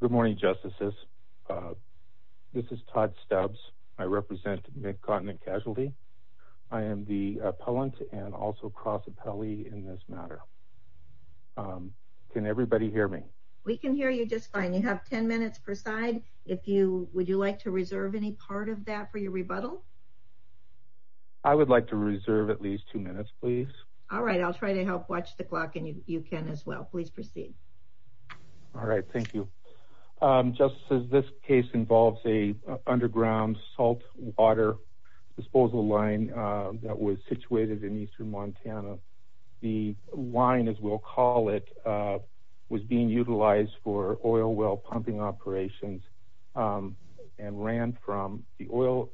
Good morning, Justices. This is Todd Stubbs. I represent Mid-Continent Casualty. I am the appellant and also cross appellee in this matter. Can everybody hear me? We can hear you just fine. You have 10 minutes per side. If you would you like to reserve any part of that for your rebuttal? I would like to reserve at least two minutes, please. All right. I'll try to help watch the clock and you can as well. Please proceed. All right. Thank you. Justices, this case involves an underground salt water disposal line that was situated in eastern Montana. The line as we'll call it was being utilized for oil well pumping operations and ran from the oil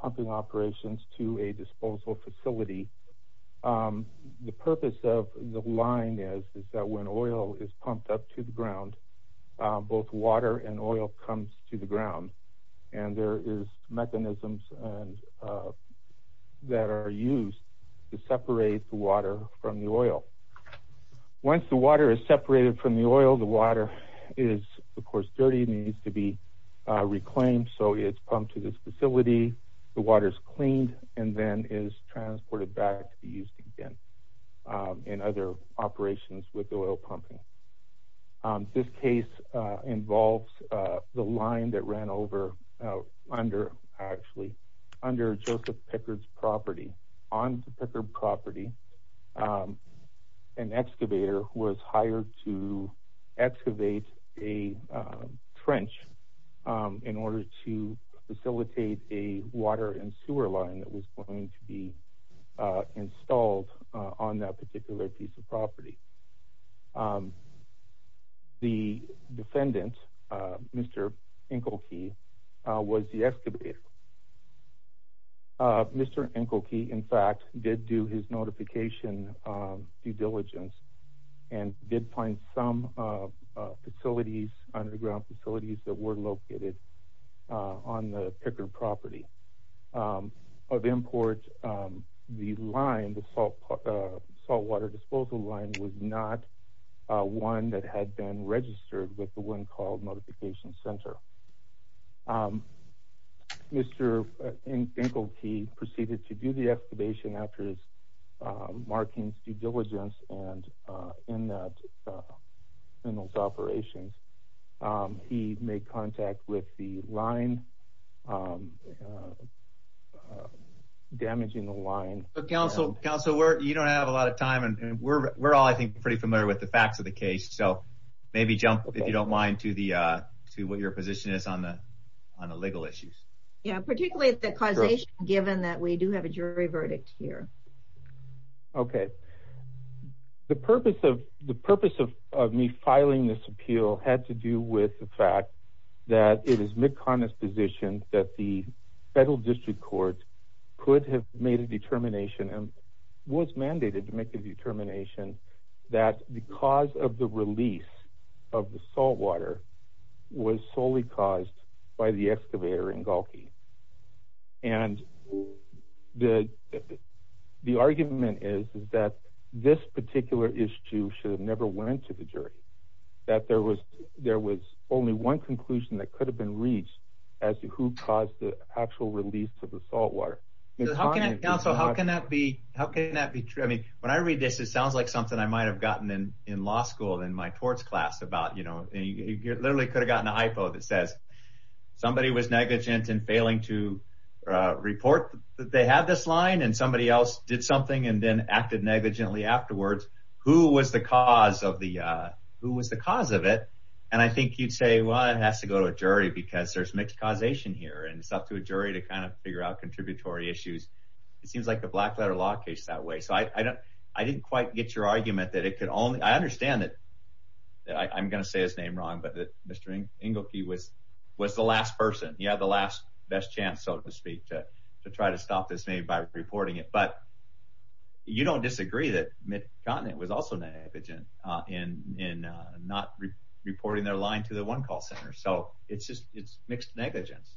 pumping operations to a disposal facility. The purpose of the line is that when oil is pumped up to the ground, both water and oil comes to the ground and there is mechanisms that are used to separate the water from the oil. Once the water is separated from the oil, the water is of course dirty and needs to be transported back to be used again in other operations with oil pumping. This case involves the line that ran over under Joseph Pickard's property. On the Pickard property an excavator was hired to excavate a trench in order to facilitate a water and sewer line that was going to be installed on that particular piece of property. The defendant, Mr. Enkelke, was the excavator. Mr. Enkelke, in fact, did do his notification due diligence and did find some facilities, underground facilities, that were located on the Pickard property. Of import, the line, the salt water disposal line, was not one that had been registered with the one called Notification Center. Mr. Enkelke proceeded to do the excavation after marking due diligence and in those operations, he made contact with the line, damaging the line. Council, you don't have a lot of time and we're all, I think, pretty familiar with the facts of the case, so maybe jump, if you don't mind, to what your position is on the legal issues. Yeah, particularly the causation, given that we do have a jury verdict here. Okay, the purpose of me filing this appeal had to do with the fact that it is McConnell's position that the federal district court could have made a determination and was mandated to make a determination that the cause of the release of the salt water was solely caused by the excavator, Enkelke, and the argument is that this particular issue should have never went to the jury, that there was only one conclusion that could have been reached as to who caused the actual release of the salt water. How can that be true? I mean, when I read this, it sounds like something I might have gotten in law school in my torts class about, you know, you literally could have gotten a hypo that says somebody was negligent in failing to report that they had this line, and somebody else did something and then acted negligently afterwards. Who was the cause of it? And I think you'd say, well, it has to go to a jury because there's mixed causation here, and it's up to a jury to kind of figure out contributory issues. It seems like the black letter law case is that way, so I didn't quite get your argument that it could only, I understand that I'm going to say his name wrong, but that Mr. Enkelke was the last person. He had the last, best chance, so to speak, to try to stop this maybe by reporting it, but you don't disagree that Mitt Conant was also negligent in not reporting their line to the One Call Center, so it's just, it's mixed negligence.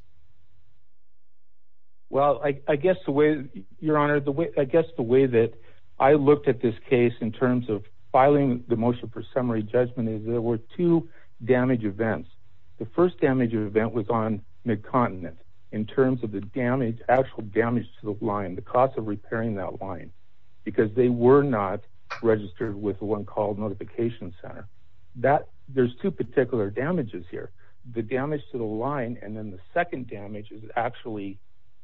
Well, I guess the way, Your Honor, I guess the way that I looked at this case in terms of filing the motion for summary judgment is there were two damage events. The first damage event was on Mitt Conant in terms of the damage, actual damage to the line, the cost of repairing that line because they were not registered with the One Call Notification Center. That, there's two particular damages here. The damage to the line, and then the second damage is actually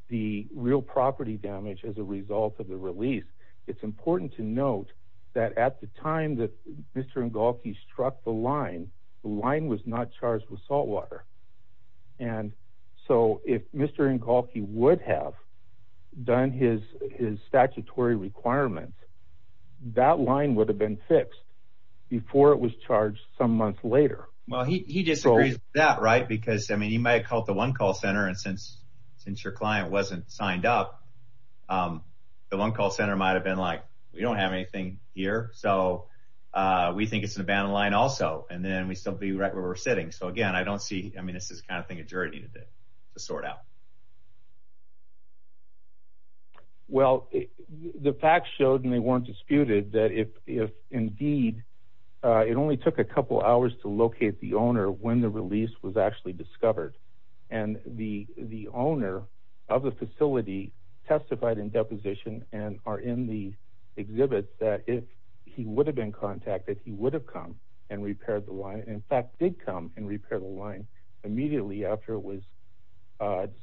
the real property damage as a result of the release. It's important to note that at the time that Mr. Enkelke struck the line, the line was not charged with salt water, and so if Mr. Enkelke would have done his statutory requirements, that line would have been fixed before it was charged some months later. Well, he disagrees with that, right, because, I mean, he might have called the One Call Center, and since your client wasn't signed up, the One Call Center might have been like, we don't have anything here, so we think it's an abandoned line also, and then we'd still be right where we're sitting. So again, I don't see, I mean, this is the kind of thing a jury needed to sort out. Well, the facts showed, and they weren't disputed, that if indeed it only took a couple hours to locate the owner when the release was actually discovered, and the owner of the facility testified in deposition and are in the exhibit that if he would have been contacted, he would have come and repaired the line, and in fact did come and repair the line immediately after it was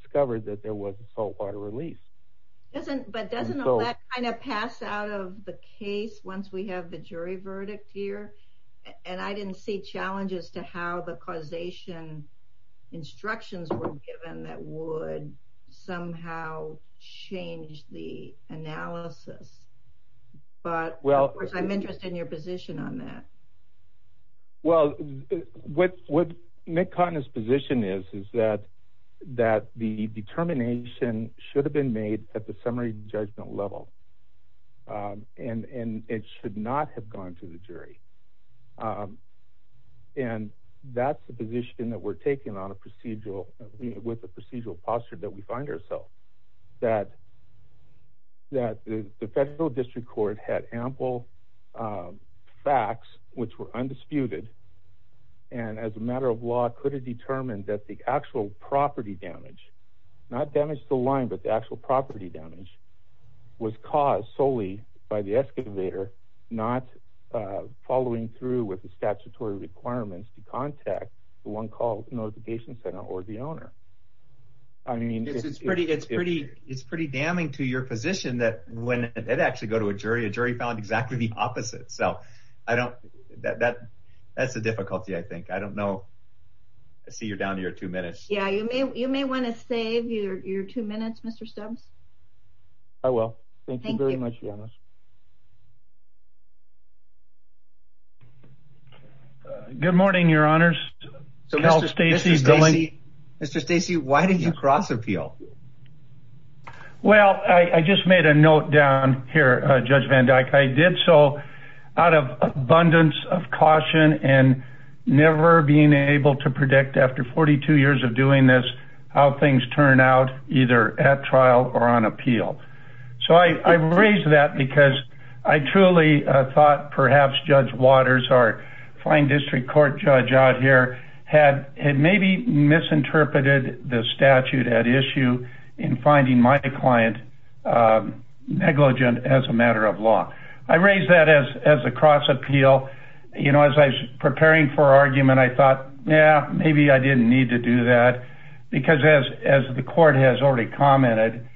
discovered that there was a salt water release. But doesn't all that kind of pass out of the case once we have a jury verdict here? And I didn't see challenges to how the causation instructions were given that would somehow change the analysis. But of course, I'm interested in your position on that. Well, what Nick Cotton's position is, is that the determination should have been made at the time of the discovery, and not have gone to the jury. And that's the position that we're taking on a procedural, with the procedural posture that we find ourselves. That the federal district court had ample facts which were undisputed, and as a matter of law, could have determined that the actual property damage, not damage to the line, but the actual property damage, was caused solely by the excavator, not following through with the statutory requirements to contact the one called notification center or the owner. I mean, it's pretty damning to your position that when it actually go to a jury, a jury found exactly the opposite. So I don't, that's the difficulty, I think. I don't know. I see you're down to your two minutes. Yeah, you may want to save your two minutes, Mr. Stubbs. I will. Thank you very much, Janice. Good morning, your honors. Mr. Stacey, why did you cross appeal? Well, I just made a note down here, Judge Van Dyke. I did so out of abundance of caution and never being able to predict after 42 years of doing this, how things turn out either at trial or on appeal. So I raised that because I truly thought perhaps Judge Waters, our fine district court judge out here, had maybe misinterpreted the statute at issue in finding my client negligent as a matter of law. I raised that as a cross appeal. You know, as I was preparing for argument, I thought, yeah, maybe I didn't need to do that. Because as the court has already commented,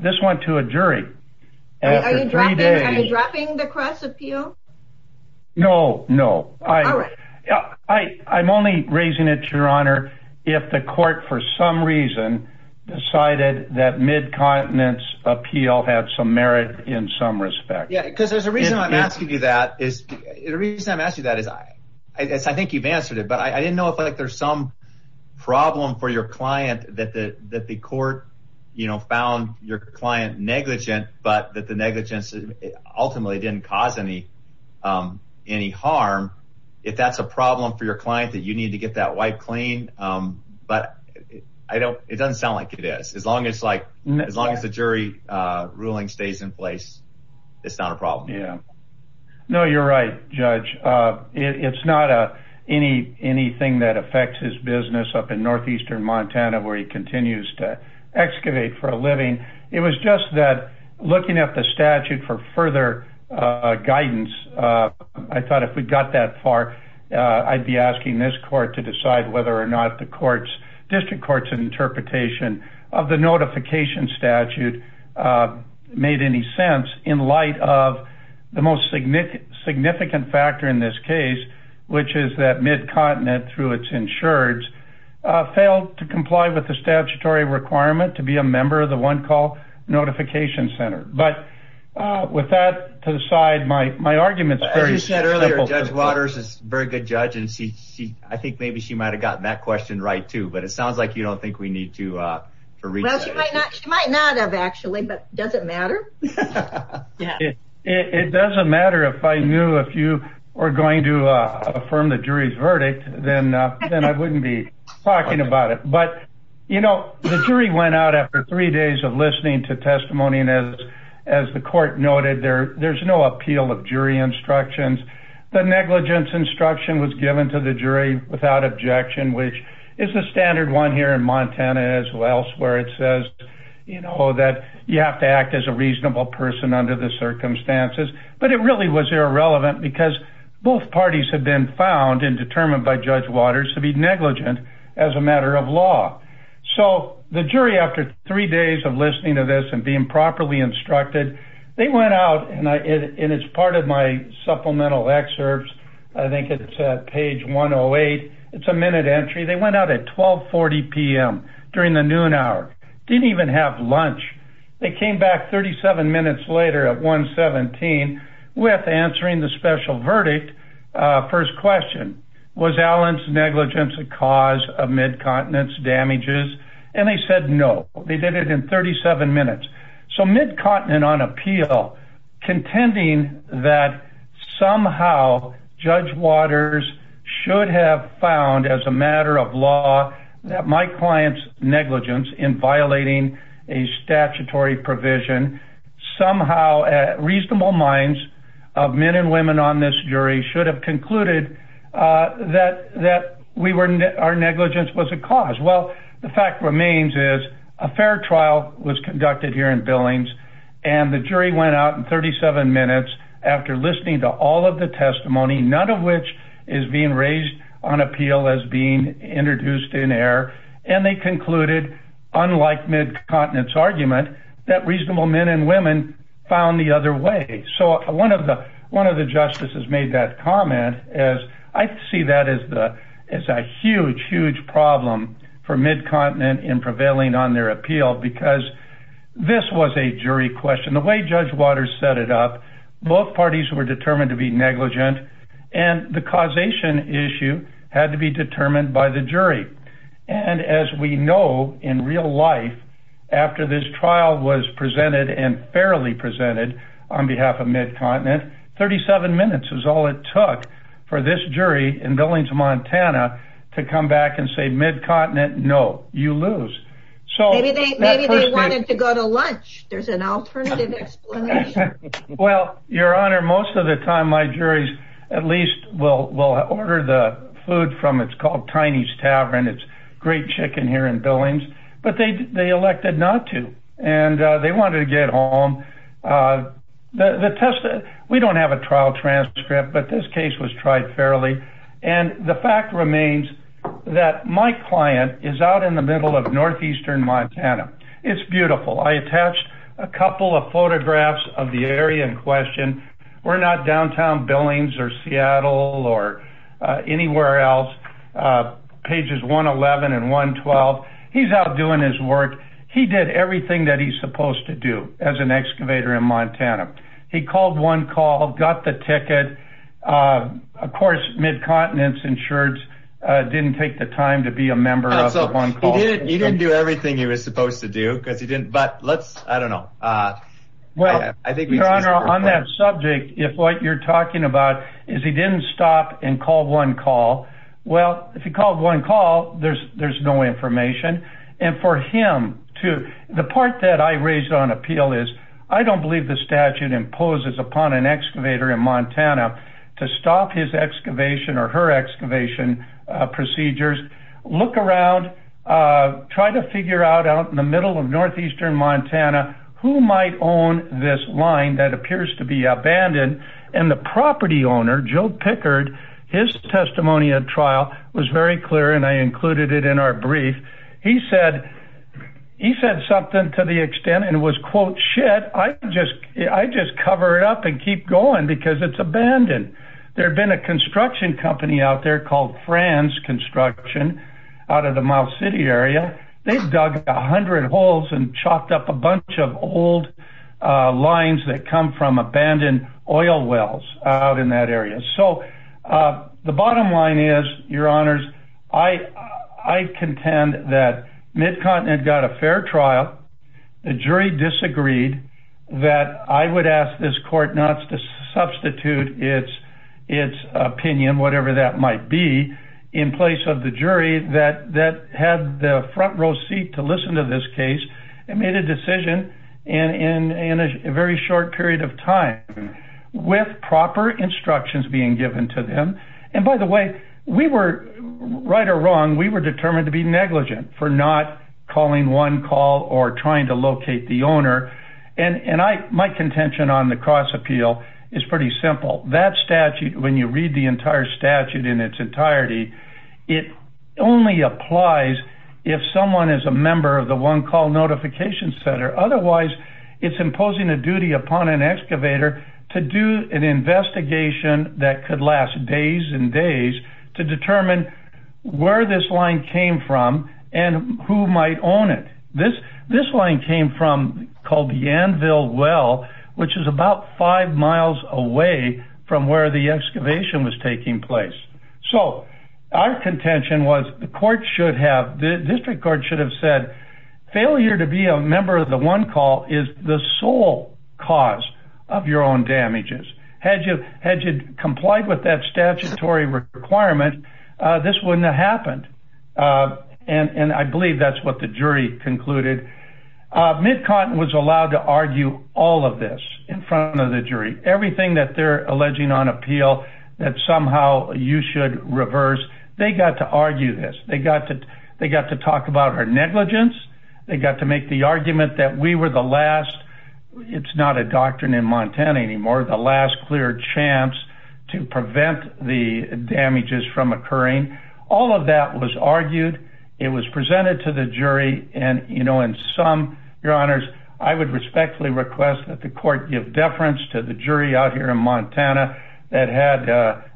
this went to a jury. Are you dropping the cross appeal? No, no. I'm only raising it, if the court for some reason decided that mid-continence appeal had some merit in some respect. Yeah, because there's a reason I'm asking you that. I think you've answered it, but I didn't know if there's some problem for your client that the court found your client negligent, but that the negligence ultimately didn't cause any harm. If that's a problem for your client that you need to get that wiped clean, but it doesn't sound like it is. As long as the jury ruling stays in place, it's not a problem. Yeah. No, you're right, Judge. It's not anything that affects his business up in northeastern Montana where he continues to excavate for a living. It was just that looking at the statute for further guidance, I thought if we got that far, I'd be asking this court to decide whether or not the district court's interpretation of the notification statute made any sense in light of the most significant factor in this case, which is that mid-continent through its insureds failed to comply with the statutory requirement to be a member of the OneCall Notification Center. But with that to the my argument's very simple. As you said earlier, Judge Waters is a very good judge, and I think maybe she might have gotten that question right, too, but it sounds like you don't think we need to read that. Well, she might not have, actually, but does it matter? It doesn't matter if I knew if you were going to affirm the jury's verdict, then I wouldn't be talking about it. But, you know, the jury went out after three days of listening to testimony, and as the court noted, there's no appeal of jury instructions. The negligence instruction was given to the jury without objection, which is the standard one here in Montana as well, where it says, you know, that you have to act as a reasonable person under the circumstances. But it really was irrelevant because both parties have been found and determined by Judge Waters to be negligent as a matter of law. So the jury, after three days of listening to this and being properly instructed, they went out, and it's part of my supplemental excerpts. I think it's page 108. It's a minute entry. They went out at 12.40 p.m. during the noon hour. Didn't even have lunch. They came back 37 minutes later at 1.17 with answering the special verdict. First question, was Allen's negligence a cause of mid-continence damages? And they said no. They did it in 37 minutes. So mid-continent on appeal, contending that somehow Judge Waters should have found as a matter of law that my client's negligence in violating a statutory provision somehow at reasonable minds of men and women on this jury should have concluded that our negligence was a cause. Well, the fact remains is a fair trial was conducted here in Billings, and the jury went out in 37 minutes after listening to all of the testimony, none of which is being raised on appeal as being introduced in error, and they concluded, unlike mid-continence argument, that reasonable men and women found the other way. So one of the justices made that comment, as I see that as a huge, huge problem for mid-continent in prevailing on their appeal, because this was a jury question. The way Judge Waters set it up, both parties were determined to be negligent, and the causation issue had to be determined by the jury. And as we know, in real life, after this trial was presented and fairly presented on behalf of mid-continent, 37 minutes is all it took for this jury in Billings, Montana, to come back and say, mid-continent, no, you lose. Maybe they wanted to go to lunch. There's an alternative explanation. Well, Your Honor, most of the time my juries at least will order the food from, it's called Tiny's Tavern, it's great chicken here in Billings, but they elected not to, and they wanted to get home. We don't have a trial transcript, but this case was tried fairly, and the fact remains that my client is out in the middle of northeastern Montana. It's beautiful. I attached a couple of photographs of the area in question. We're not downtown Billings or Seattle or anywhere else. Pages 111 and 112. He's out doing his work. He did everything that he's supposed to as an excavator in Montana. He called one call, got the ticket. Of course, mid-continent insureds didn't take the time to be a member of one call. He didn't do everything he was supposed to do, because he didn't, but let's, I don't know. Well, Your Honor, on that subject, if what you're talking about is he didn't stop and call one call, well, if he called one call, there's no information. And for him to, the part that I raised on appeal is, I don't believe the statute imposes upon an excavator in Montana to stop his excavation or her excavation procedures. Look around, try to figure out out in the middle of northeastern Montana who might own this line that appears to be abandoned. And the property owner, Joe Pickard, his testimony at trial was very clear, and I included it in our shit. I just cover it up and keep going because it's abandoned. There had been a construction company out there called Franz Construction out of the Miles City area. They dug a hundred holes and chopped up a bunch of old lines that come from abandoned oil wells out in that area. So the bottom line is, Your Honors, I contend that Mid-Continent got a fair trial. The jury disagreed that I would ask this court not to substitute its opinion, whatever that might be, in place of the jury that had the front row seat to listen to this case and made a decision in a very short period of time with proper instructions being given to them. And by the way, we were, right or wrong, we were determined to be negligent for not calling one call or trying to locate the owner. And my contention on the cross appeal is pretty simple. That statute, when you read the entire statute in its entirety, it only applies if someone is a member of the One Call Notification Center. Otherwise, it's imposing a duty upon an excavator to do an investigation that could last days and days to determine where this line came from and who might own it. This line came from, called the Anvil Well, which is about five miles away from where the excavation was taking place. So our contention was the court should have, the district court should have said, failure to be a member of the One Call is the sole cause of your own damages. Had you complied with that statutory requirement, this wouldn't have happened. And I believe that's what the jury concluded. Mid-Continent was allowed to argue all of this in front of the jury. Everything that they're alleging on appeal that somehow you should reverse, they got to argue this. They got to talk about our negligence. They got to make the argument that we were the last, it's not a doctrine in Montana anymore, the last clear chance to prevent the damages from occurring. All of that was argued. It was presented to the jury. And you know, in sum, your honors, I would respectfully request that the court give deference to the jury out here in Montana that had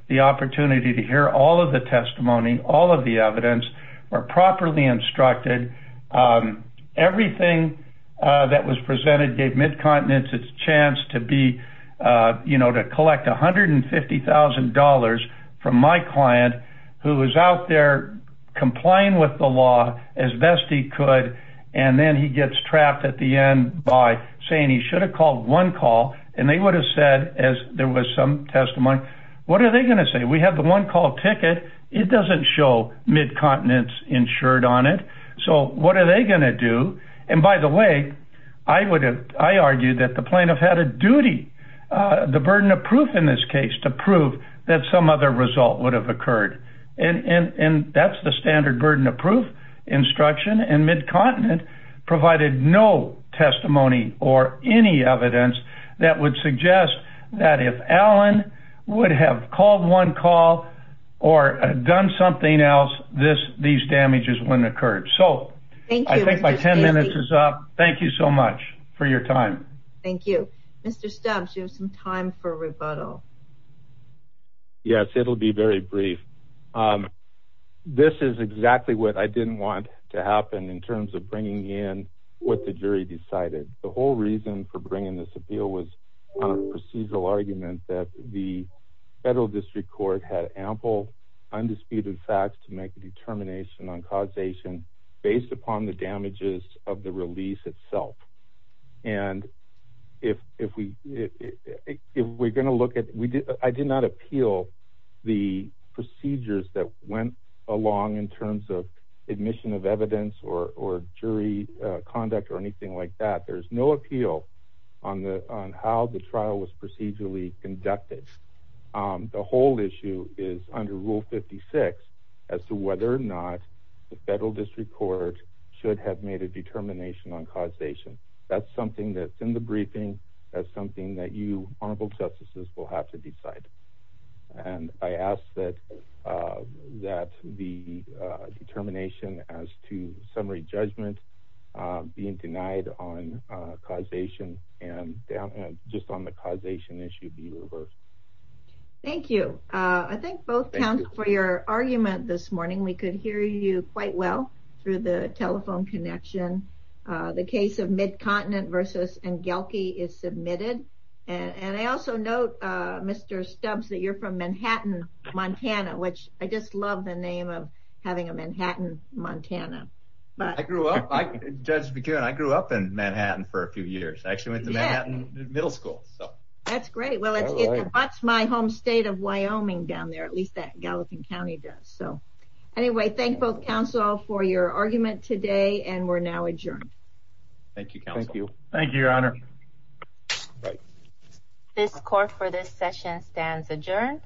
the opportunity to hear all of the testimony, all of the evidence were properly instructed. Everything that was presented gave Mid-Continent its chance to be, you know, to collect $150,000 from my client who was out there complying with the law as best he could. And then he gets trapped at the end by saying he should have called one call. And they would have said, as there was some testimony, what are they going to say? We have the one call ticket. It doesn't show Mid-Continent's insured on it. So what are they going to do? And by the way, I would have, I argued that the plaintiff had a duty, the burden of proof in this case to prove that some other result would have occurred. And that's the evidence that would suggest that if Alan would have called one call or done something else, this, these damages wouldn't have occurred. So I think my 10 minutes is up. Thank you so much for your time. Thank you. Mr. Stubbs, you have some time for rebuttal. Yes, it'll be very brief. This is exactly what I didn't want to happen in terms of bringing in what the jury decided. The whole reason for bringing this appeal was on a procedural argument that the federal district court had ample undisputed facts to make a determination on causation based upon the damages of the release itself. And if, if we, if we're going to look at, we did, I did not appeal the procedures that went along in terms of admission of evidence or, or jury conduct or there's no appeal on the, on how the trial was procedurally conducted. The whole issue is under rule 56 as to whether or not the federal district court should have made a determination on causation. That's something that's in the briefing. That's something that you honorable justices will have to decide. And I asked that, that the determination as to summary judgment being denied on causation and just on the causation issue be reversed. Thank you. I thank both counsel for your argument this morning. We could hear you quite well through the telephone connection. The case of Midcontinent versus Engelke is submitted. And I also note Mr. Stubbs that you're from Manhattan, Montana, which I just love the name of having a Manhattan, Montana. But I grew up, I grew up in Manhattan for a few years. I actually went to Manhattan middle school. So that's great. Well, that's my home state of Wyoming down there. At least that Gallatin County does. So anyway, thank both counsel for your argument today. And we're now adjourned. Thank you. Thank you. Thank you, Your Honor. This court for this session stands adjourned.